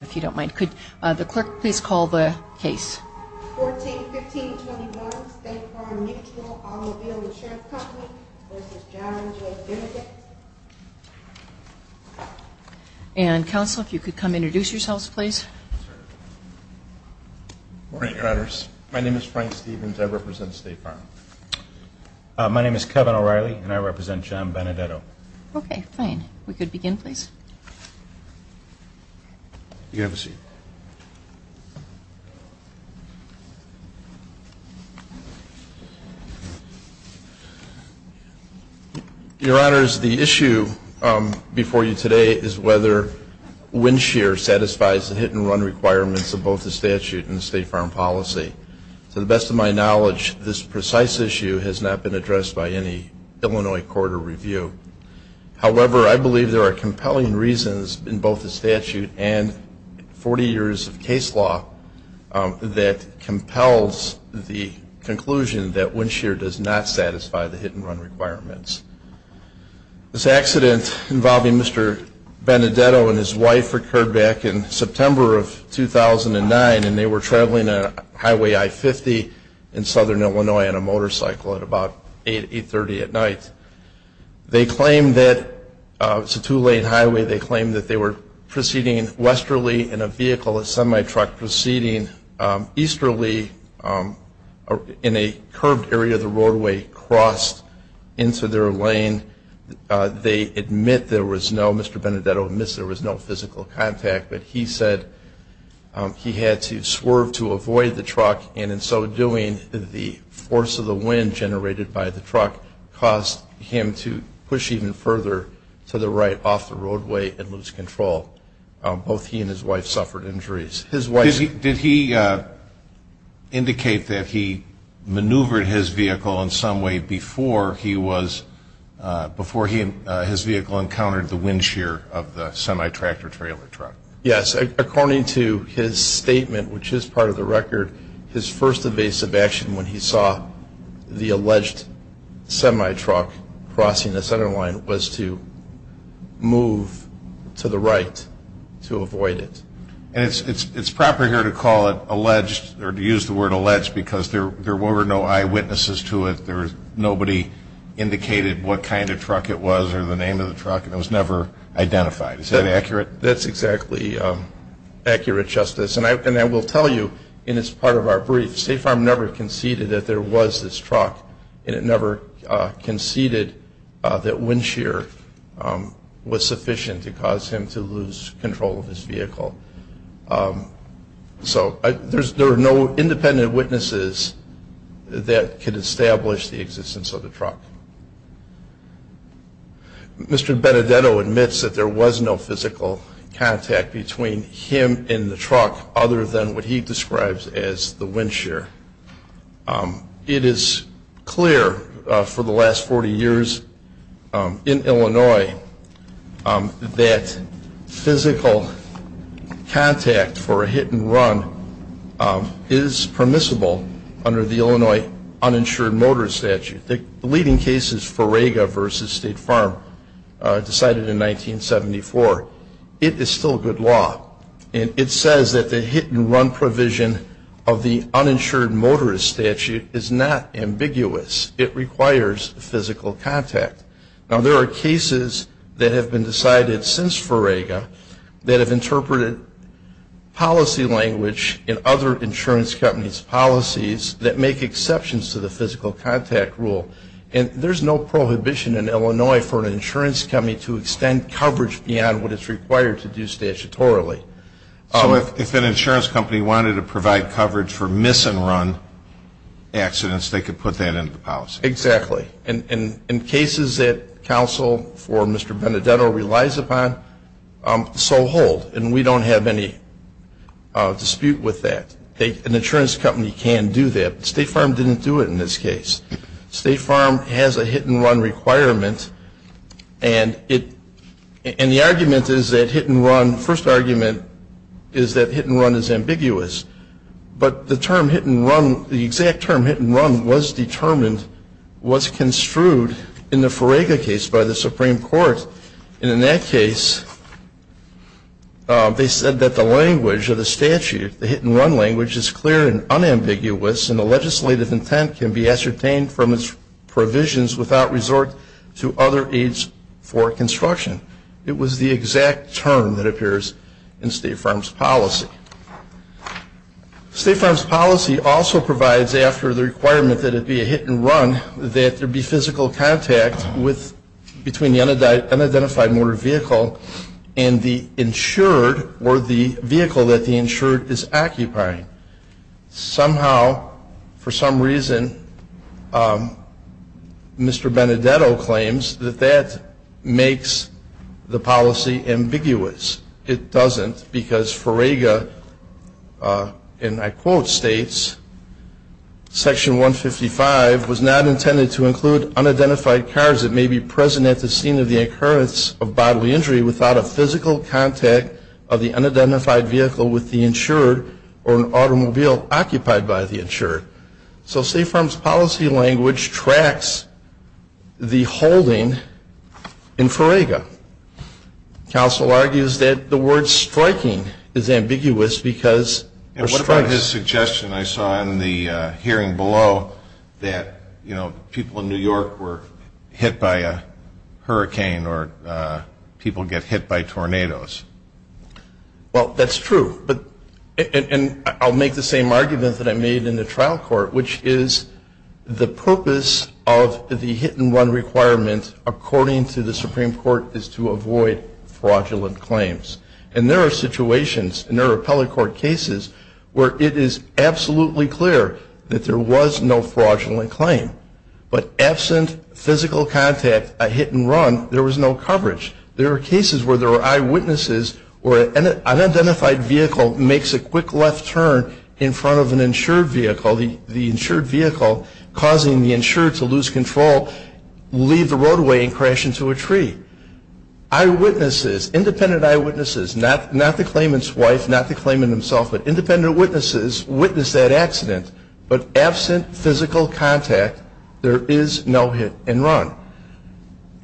If you don't mind, could the clerk please call the case? 14-15-21, State Farm Mutual Automobile Insurance Company v. John J. Benedetto And, counsel, if you could come introduce yourselves, please. Good morning, Your Honors. My name is Frank Stevens. I represent State Farm. My name is Kevin O'Reilly, and I represent John Benedetto. Okay, fine. If we could begin, please. You can have a seat. Your Honors, the issue before you today is whether wind shear satisfies the hit-and-run requirements of both the statute and the State Farm policy. To the best of my knowledge, this precise issue has not been addressed by any Illinois court or review. However, I believe there are compelling reasons in both the statute and 40 years of case law that compels the conclusion that wind shear does not satisfy the hit-and-run requirements. This accident involving Mr. Benedetto and his wife occurred back in September of 2009, and they were traveling on Highway I-50 in southern Illinois on a motorcycle at about 8, 830 at night. They claimed that it was a two-lane highway. They claimed that they were proceeding westerly in a vehicle, a semi-truck, proceeding easterly in a curved area of the roadway, crossed into their lane. They admit there was no, Mr. Benedetto admits there was no physical contact, but he said he had to swerve to avoid the truck, and in so doing, the force of the wind generated by the truck caused him to push even further to the right off the roadway and lose control. Both he and his wife suffered injuries. Did he indicate that he maneuvered his vehicle in some way before he was, before his vehicle encountered the wind shear of the semi-tractor trailer truck? Yes. According to his statement, which is part of the record, his first evasive action when he saw the alleged semi-truck crossing the center line was to move to the right to avoid it. And it's proper here to call it alleged, or to use the word alleged, because there were no eyewitnesses to it. Nobody indicated what kind of truck it was or the name of the truck, and it was never identified. Is that accurate? That's exactly accurate, Justice. And I will tell you, in this part of our brief, State Farm never conceded that there was this truck, and it never conceded that wind shear was sufficient to cause him to lose control of his vehicle. So there are no independent witnesses that could establish the existence of the truck. Mr. Benedetto admits that there was no physical contact between him and the truck other than what he describes as the wind shear. It is clear for the last 40 years in Illinois that physical contact for a hit-and-run is permissible under the Illinois Uninsured Motor Statute. The leading case is Ferrega v. State Farm, decided in 1974. It is still good law. And it says that the hit-and-run provision of the Uninsured Motorist Statute is not ambiguous. It requires physical contact. Now, there are cases that have been decided since Ferrega that have interpreted policy language in other insurance companies' policies that make exceptions to the physical contact rule. And there's no prohibition in Illinois for an insurance company to extend coverage beyond what it's required to do statutorily. So if an insurance company wanted to provide coverage for miss-and-run accidents, they could put that into the policy? Exactly. And in cases that counsel for Mr. Benedetto relies upon, so hold. And we don't have any dispute with that. An insurance company can do that, but State Farm didn't do it in this case. State Farm has a hit-and-run requirement. And the argument is that hit-and-run, first argument is that hit-and-run is ambiguous. But the term hit-and-run, the exact term hit-and-run was determined, was construed in the Ferrega case by the Supreme Court. And in that case, they said that the language of the statute, the hit-and-run language, is clear and unambiguous. And the legislative intent can be ascertained from its provisions without resort to other aids for construction. It was the exact term that appears in State Farm's policy. State Farm's policy also provides, after the requirement that it be a hit-and-run, that there be physical contact between the unidentified motor vehicle and the insured or the vehicle that the insured is occupying. Somehow, for some reason, Mr. Benedetto claims that that makes the policy ambiguous. It doesn't, because Ferrega, and I quote, states, Section 155 was not intended to include unidentified cars that may be present at the scene of the occurrence of bodily injury without a physical contact of the unidentified vehicle with the insured or an automobile occupied by the insured. So State Farm's policy language tracks the holding in Ferrega. Counsel argues that the word striking is ambiguous because there are strikes. There was a suggestion I saw in the hearing below that, you know, people in New York were hit by a hurricane or people get hit by tornadoes. Well, that's true. And I'll make the same argument that I made in the trial court, which is the purpose of the hit-and-run requirement, according to the Supreme Court, is to avoid fraudulent claims. And there are situations, and there are appellate court cases, where it is absolutely clear that there was no fraudulent claim. But absent physical contact, a hit-and-run, there was no coverage. There are cases where there are eyewitnesses where an unidentified vehicle makes a quick left turn in front of an insured vehicle, the insured vehicle causing the insured to lose control, leave the roadway and crash into a tree. Eyewitnesses, independent eyewitnesses, not the claimant's wife, not the claimant himself, but independent witnesses witness that accident. But absent physical contact, there is no hit-and-run.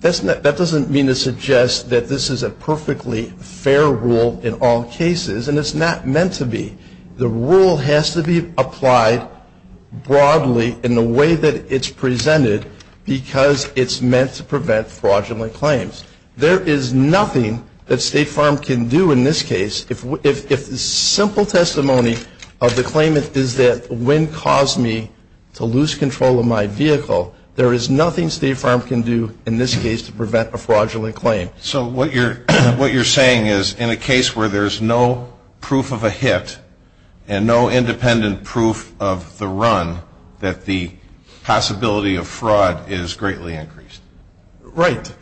That doesn't mean to suggest that this is a perfectly fair rule in all cases, and it's not meant to be. The rule has to be applied broadly in the way that it's presented because it's meant to prevent fraudulent claims. There is nothing that State Farm can do in this case if the simple testimony of the claimant is that when caused me to lose control of my vehicle, there is nothing State Farm can do in this case to prevent a fraudulent claim. So what you're saying is in a case where there's no proof of a hit and no independent proof of the run, that the possibility of fraud is greatly increased. Right.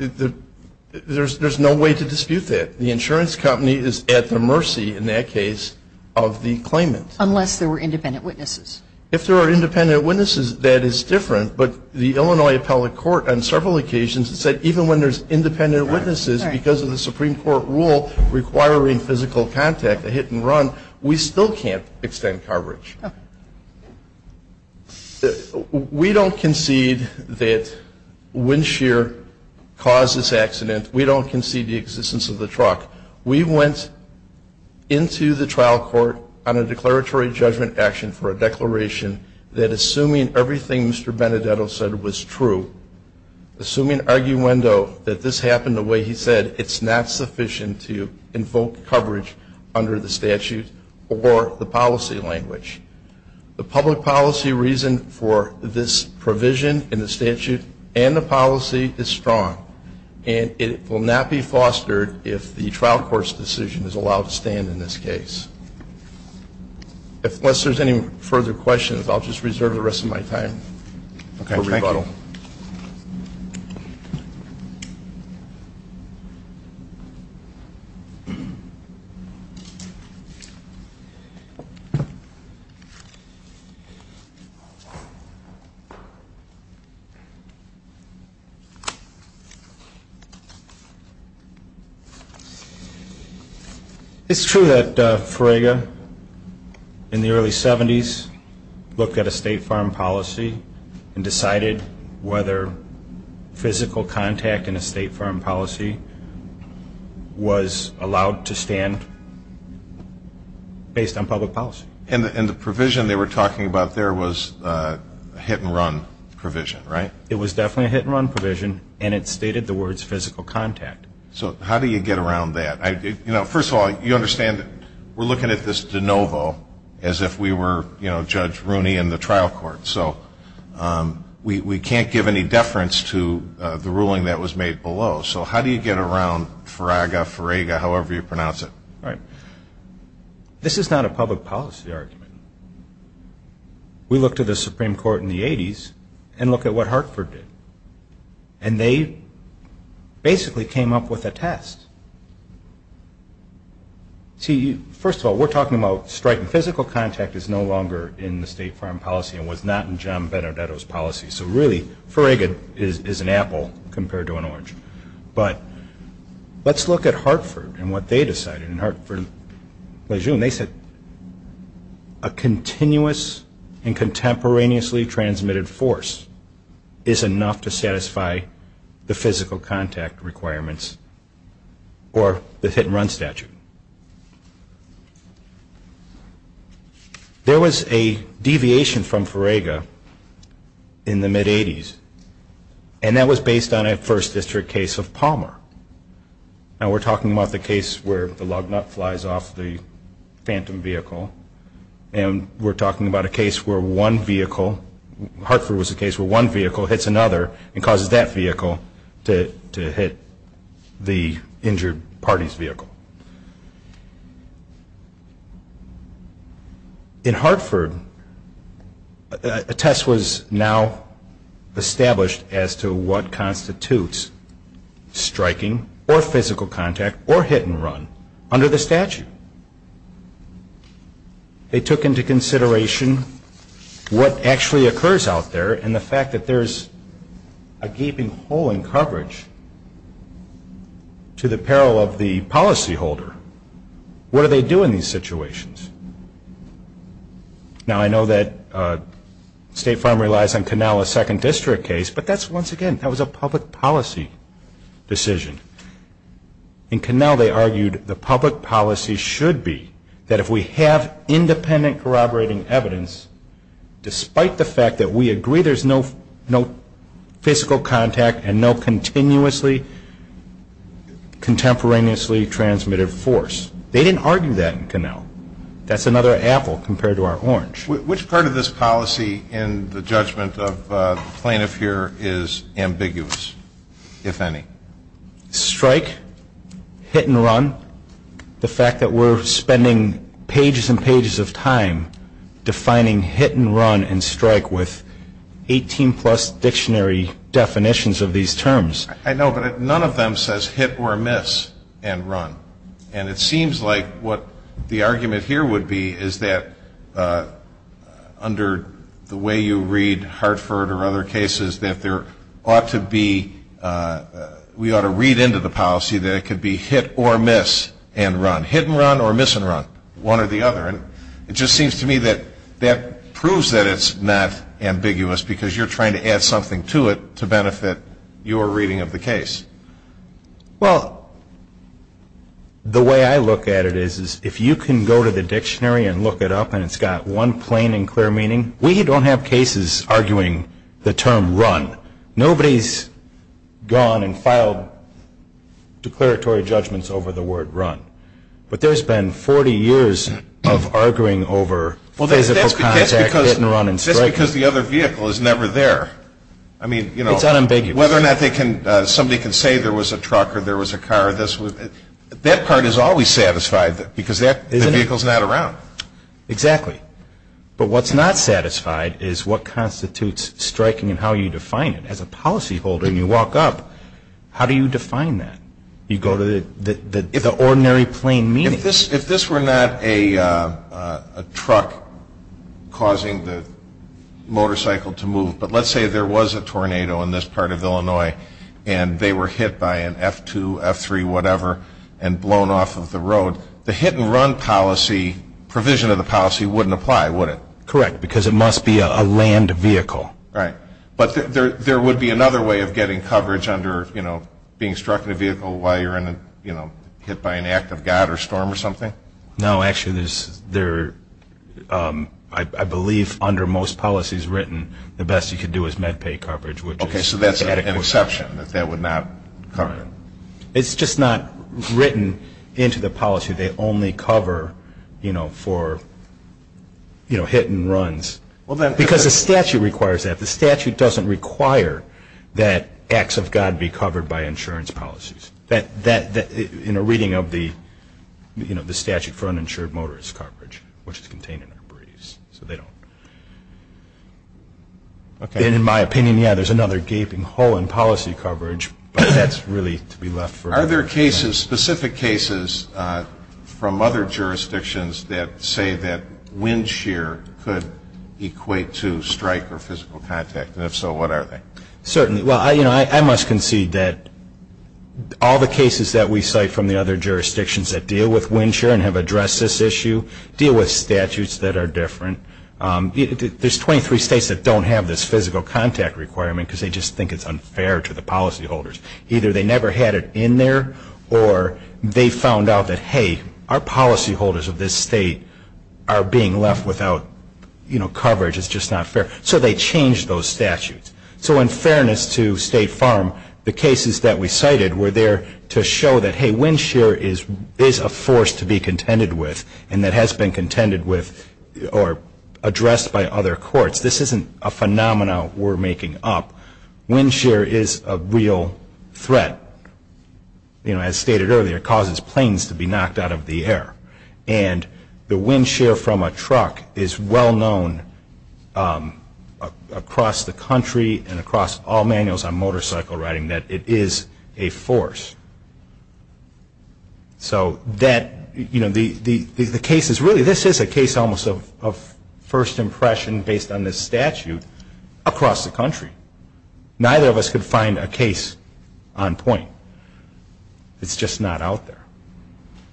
There's no way to dispute that. The insurance company is at the mercy in that case of the claimant. Unless there were independent witnesses. If there are independent witnesses, that is different. But the Illinois Appellate Court on several occasions said even when there's independent witnesses, because of the Supreme Court rule requiring physical contact, a hit and run, we still can't extend coverage. We don't concede that Windshear caused this accident. We don't concede the existence of the truck. We went into the trial court on a declaratory judgment action for a declaration that assuming everything Mr. Benedetto said was true, assuming arguendo that this happened the way he said, it's not sufficient to invoke coverage under the statute or the policy language. The public policy reason for this provision in the statute and the policy is strong. And it will not be fostered if the trial court's decision is allowed to stand in this case. Unless there's any further questions, I'll just reserve the rest of my time for rebuttal. It's true that Frege in the early 70s looked at a state farm policy and decided whether physical contact in a state farm policy was allowed to stand based on public policy. And the provision they were talking about there was a hit and run provision, right? It was definitely a hit and run provision and it stated the words physical contact. So how do you get around that? First of all, you understand we're looking at this de novo as if we were Judge Rooney in the trial court. So we can't give any deference to the ruling that was made below. So how do you get around FREGA, however you pronounce it? Right. This is not a public policy argument. We look to the Supreme Court in the 80s and look at what Hartford did. And they basically came up with a test. See, first of all, we're talking about striking physical contact is no longer in the state farm policy and was not in John Benedetto's policy. So really, FREGA is an apple compared to an orange. But let's look at Hartford and what they decided. In Hartford Lejeune, they said a continuous and contemporaneously transmitted force is enough to satisfy the physical contact requirements or the hit and run statute. There was a deviation from FREGA in the mid-80s. And that was based on a First District case of Palmer. Now, we're talking about the case where the log nut flies off the phantom vehicle. And we're talking about a case where one vehicle, Hartford was a case where one vehicle hits another and causes that vehicle to hit the injured party's vehicle. In Hartford, a test was now established as to what constitutes striking or physical contact or hit and run under the statute. They took into consideration what actually occurs out there and the fact that there's a gaping hole in coverage to the peril of the policy What do they do in these situations? Now, I know that State Farm relies on Canal, a Second District case, but that's, once again, that was a public policy decision. In Canal, they argued the public policy should be that if we have independent corroborating evidence, despite the fact that we agree there's no physical contact and no continuously contemporaneously transmitted force. They didn't argue that in Canal. That's another apple compared to our orange. Which part of this policy in the judgment of the plaintiff here is ambiguous, if any? Strike, hit and run, the fact that we're spending pages and pages of time defining hit and run and strike with 18-plus dictionary definitions of these terms. I know, but none of them says hit or miss and run. And it seems like what the argument here would be is that under the way you read Hartford or other cases, that there ought to be, we ought to read into the policy that it could be hit or miss and run. Hit and run or miss and run, one or the other. And it just seems to me that that proves that it's not ambiguous because you're trying to add something to it to benefit your reading of the case. Well, the way I look at it is if you can go to the dictionary and look it up and it's got one plain and clear meaning, we don't have cases arguing the term run. Nobody's gone and filed declaratory judgments over the word run. But there's been 40 years of arguing over physical contact, hit and run and strike. That's because the other vehicle is never there. It's unambiguous. Whether or not somebody can say there was a truck or there was a car, that part is always satisfied because the vehicle's not around. Exactly. But what's not satisfied is what constitutes striking and how you define it. As a policyholder, when you walk up, how do you define that? You go to the ordinary plain meaning. If this were not a truck causing the motorcycle to move, but let's say there was a tornado in this part of Illinois and they were hit by an F2, F3, whatever, and blown off of the road, the hit and run policy, provision of the policy, wouldn't apply, would it? Correct, because it must be a land vehicle. Right. But there would be another way of getting coverage under being struck in a vehicle while you're hit by an act of God or storm or something? No. Actually, I believe under most policies written, the best you could do is med pay coverage. Okay. So that's an exception, that that would not cover it. It's just not written into the policy. They only cover for hit and runs. Because the statute requires that. The statute doesn't require that acts of God be covered by insurance policies. In a reading of the statute for uninsured motorist coverage, which is contained in our briefs, so they don't. In my opinion, yeah, there's another gaping hole in policy coverage, but that's really to be left for later. Are there specific cases from other jurisdictions that say that wind shear could equate to strike or physical contact? And if so, what are they? Certainly. Well, I must concede that all the cases that we cite from the other jurisdictions that deal with wind shear and have addressed this issue deal with statutes that are different. There's 23 states that don't have this physical contact requirement because they just think it's unfair to the policyholders. Either they never had it in there or they found out that, hey, our policyholders of this state are being left without coverage. It's just not fair. So they changed those statutes. So in fairness to State Farm, the cases that we cited were there to show that, hey, wind shear is a force to be contended with and that has been contended with or addressed by other courts. This isn't a phenomenon we're making up. Wind shear is a real threat. As stated earlier, it causes planes to be knocked out of the air. And the wind shear from a truck is well known across the country and across all manuals on motorcycle riding that it is a force. So that, you know, the case is really, this is a case almost of first impression based on this statute across the country. Neither of us could find a case on point. It's just not out there.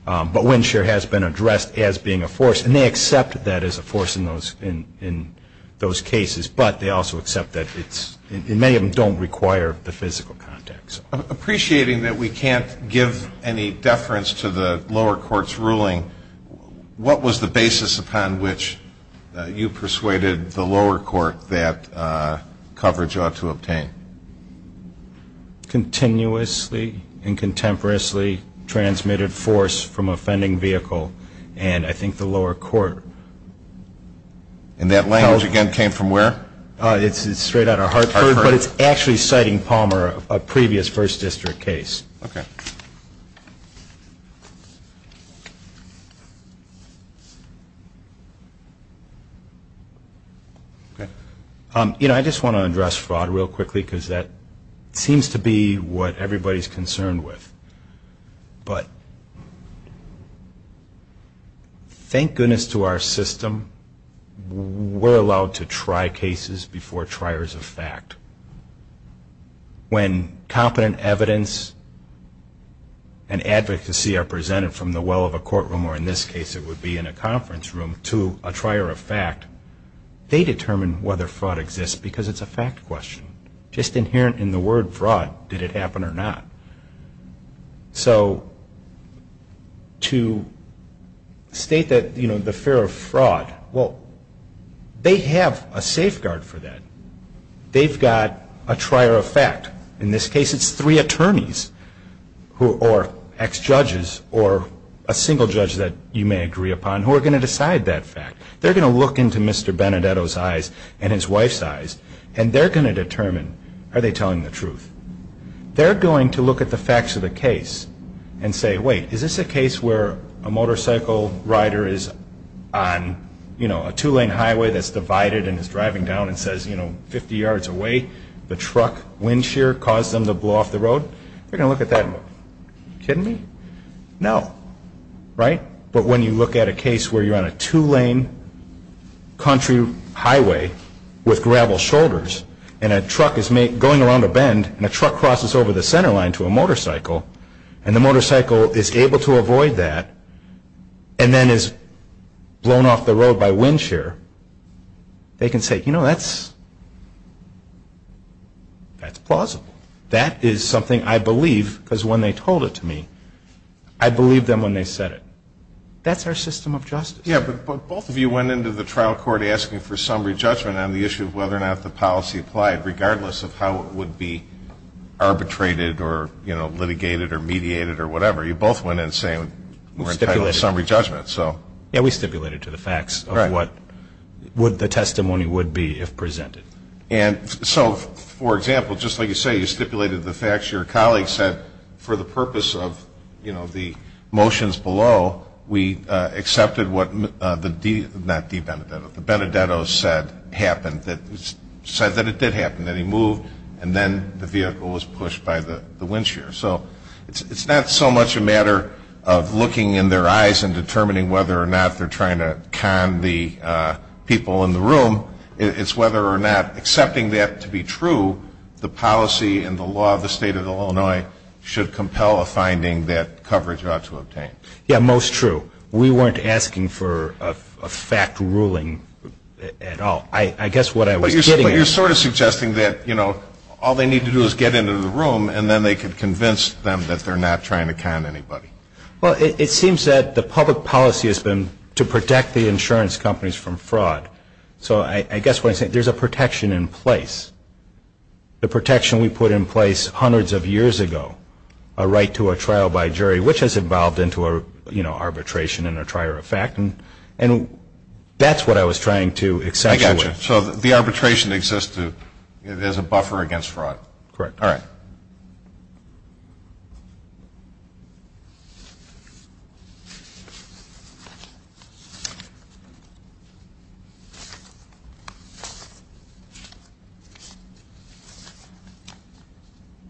But wind shear has been addressed as being a force, and they accept that as a force in those cases, but they also accept that it's, and many of them don't require the physical contact. Appreciating that we can't give any deference to the lower court's ruling, what was the basis upon which you persuaded the lower court that coverage ought to obtain? Continuously and contemporaneously transmitted force from a fending vehicle, and I think the lower court. And that language again came from where? It's straight out of Hartford, but it's actually citing Palmer, a previous first district case. Okay. You know, I just want to address fraud real quickly because that seems to be what everybody's concerned with. But thank goodness to our system, we're allowed to try cases before triers of fact. When competent evidence and advocacy are presented from the well of a courtroom, or in this case it would be in a conference room, to a trier of fact, they determine whether fraud exists because it's a fact question. Just inherent in the word fraud, did it happen or not? So to state that, you know, the fear of fraud, well, they have a safeguard for that. They've got a trier of fact. In this case it's three attorneys or ex-judges or a single judge that you may agree upon who are going to decide that fact. They're going to look into Mr. Benedetto's eyes and his wife's eyes and they're going to determine, are they telling the truth? They're going to look at the facts of the case and say, wait, is this a case where a motorcycle rider is on, you know, a two-lane highway that's divided and is driving down and says, you know, 50 yards away, the truck wind shear caused them to blow off the road? They're going to look at that and go, are you kidding me? No. Right? But when you look at a case where you're on a two-lane country highway with gravel shoulders and a truck is going around a bend and a truck crosses over the center line to a motorcycle and the motorcycle is able to avoid that and then is blown off the road by wind shear, they can say, you know, that's plausible. That is something I believe because when they told it to me, I believed them when they said it. That's our system of justice. Yeah, but both of you went into the trial court asking for summary judgment on the issue of whether or not the policy applied, regardless of how it would be arbitrated or, you know, litigated or mediated or whatever. You both went in saying we're entitled to summary judgment, so. Yeah, we stipulated to the facts of what the testimony would be if presented. And so, for example, just like you say, you stipulated the facts. Your colleague said for the purpose of, you know, the motions below, we accepted what the Benedetto said happened, said that it did happen, that he moved, and then the vehicle was pushed by the wind shear. So it's not so much a matter of looking in their eyes and determining whether or not they're trying to con the people in the room. It's whether or not accepting that to be true, the policy and the law of the State of Illinois should compel a finding that coverage ought to obtain. Yeah, most true. We weren't asking for a fact ruling at all. I guess what I was getting at. But you're sort of suggesting that, you know, all they need to do is get into the room and then they can convince them that they're not trying to con anybody. Well, it seems that the public policy has been to protect the insurance companies from fraud. So I guess what I'm saying, there's a protection in place. The protection we put in place hundreds of years ago, a right to a trial by jury, which has evolved into, you know, arbitration and a trier of fact. And that's what I was trying to accentuate. I got you. So the arbitration exists as a buffer against fraud. Correct. All right.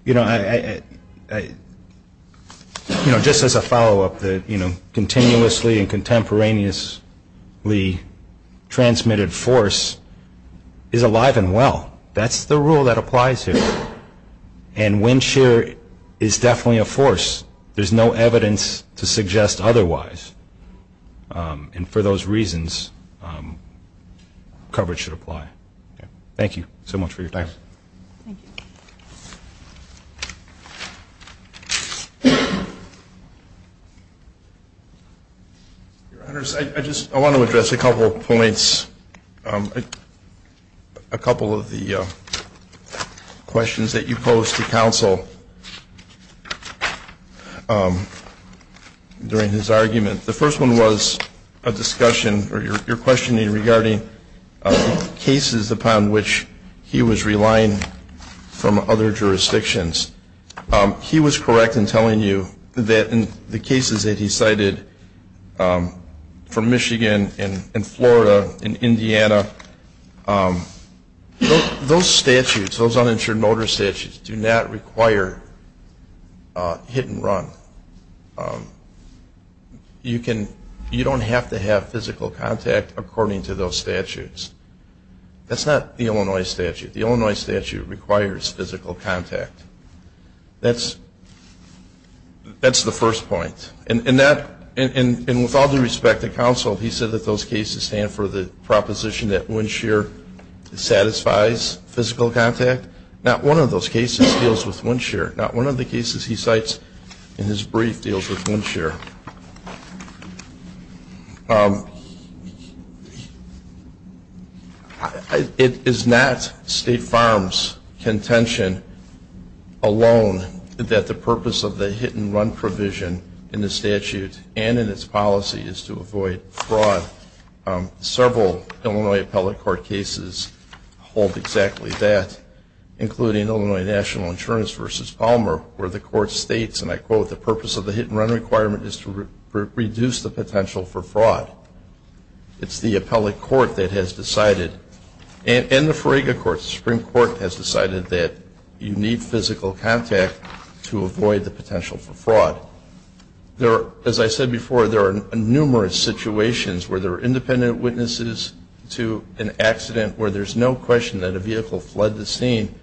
You know, just as a follow-up, you know, continuously and contemporaneously transmitted force is alive and well. That's the rule that applies here. And wind shear is definitely a force. There's no evidence to suggest otherwise. And for those reasons, coverage should apply. Thank you so much for your time. Thank you. Your Honors, I just want to address a couple of points, a couple of the questions that you posed to counsel during his argument. The first one was a discussion or your questioning regarding cases upon which he was relying on from other jurisdictions. He was correct in telling you that in the cases that he cited from Michigan and Florida and Indiana, those statutes, those uninsured notice statutes, do not require hit and run. You don't have to have physical contact according to those statutes. That's not the Illinois statute. The Illinois statute requires physical contact. That's the first point. And with all due respect to counsel, he said that those cases stand for the proposition that wind shear satisfies physical contact. Not one of those cases deals with wind shear. Not one of the cases he cites in his brief deals with wind shear. It is not State Farm's contention alone that the purpose of the hit and run provision in the statute and in its policy is to avoid fraud. Several Illinois appellate court cases hold exactly that, including Illinois National Insurance v. Palmer where the court states, and I quote, the purpose of the hit and run requirement is to reduce the potential for fraud. It's the appellate court that has decided, and the Frega Court, Supreme Court, has decided that you need physical contact to avoid the potential for fraud. As I said before, there are numerous situations where there are independent witnesses to an accident where there's no question that a vehicle fled the scene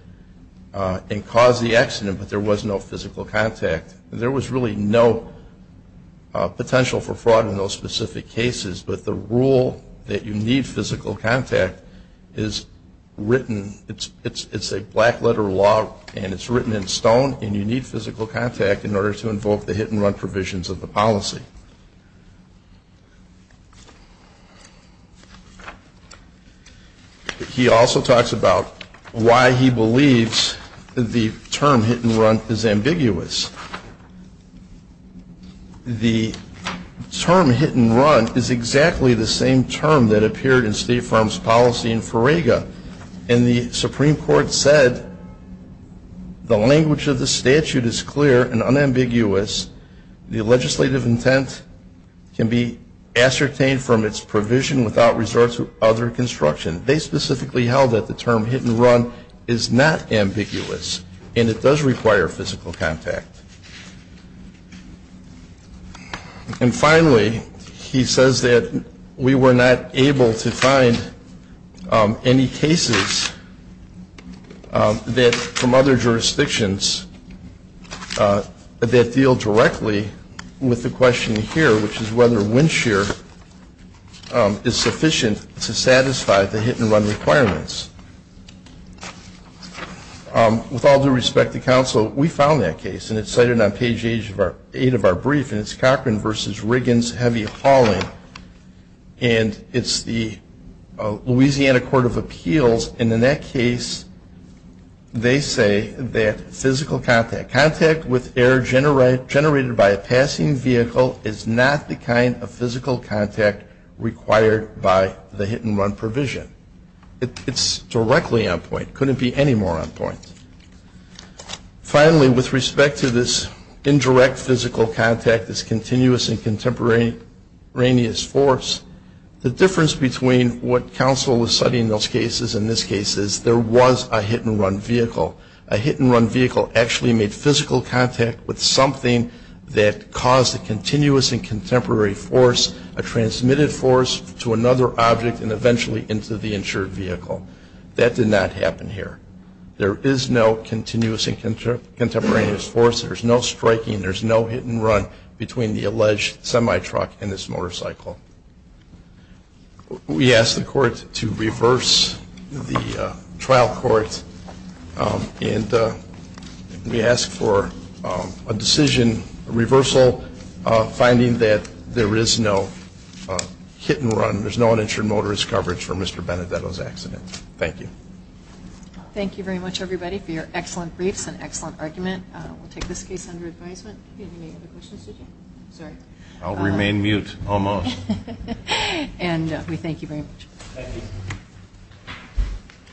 and caused the accident, but there was no physical contact. There was really no potential for fraud in those specific cases, but the rule that you need physical contact is written. It's a black letter law, and it's written in stone, and you need physical contact in order to invoke the hit and run provisions of the policy. He also talks about why he believes the term hit and run is ambiguous. The term hit and run is exactly the same term that appeared in State Farm's policy in Frega, and the Supreme Court said the language of the statute is clear and unambiguous. The legislative intent can be ascertained from its provision without resort to other construction. They specifically held that the term hit and run is not ambiguous, and it does require physical contact. And finally, he says that we were not able to find any cases from other jurisdictions that deal directly with the question here, which is whether wind shear is sufficient to satisfy the hit and run requirements. With all due respect to counsel, we found that case, and it's cited on page 8 of our brief, and it's Cochran v. Riggins, heavy hauling, and it's the Louisiana Court of Appeals, and in that case they say that physical contact, contact with air generated by a passing vehicle, is not the kind of physical contact required by the hit and run provision. It's directly on point. It couldn't be any more on point. Finally, with respect to this indirect physical contact, this continuous and contemporaneous force, the difference between what counsel was citing in those cases and this case is there was a hit and run vehicle. A hit and run vehicle actually made physical contact with something that caused a continuous and contemporary force, a transmitted force to another object and eventually into the insured vehicle. That did not happen here. There is no continuous and contemporaneous force. There's no striking. There's no hit and run between the alleged semi-truck and this motorcycle. We ask the court to reverse the trial court, and we ask for a decision, a reversal, finding that there is no hit and run, there's no uninsured motorist coverage for Mr. Benedetto's accident. Thank you. Thank you very much, everybody, for your excellent briefs and excellent argument. We'll take this case under advisement. You didn't have any other questions, did you? Sorry. I'll remain mute almost. Thank you.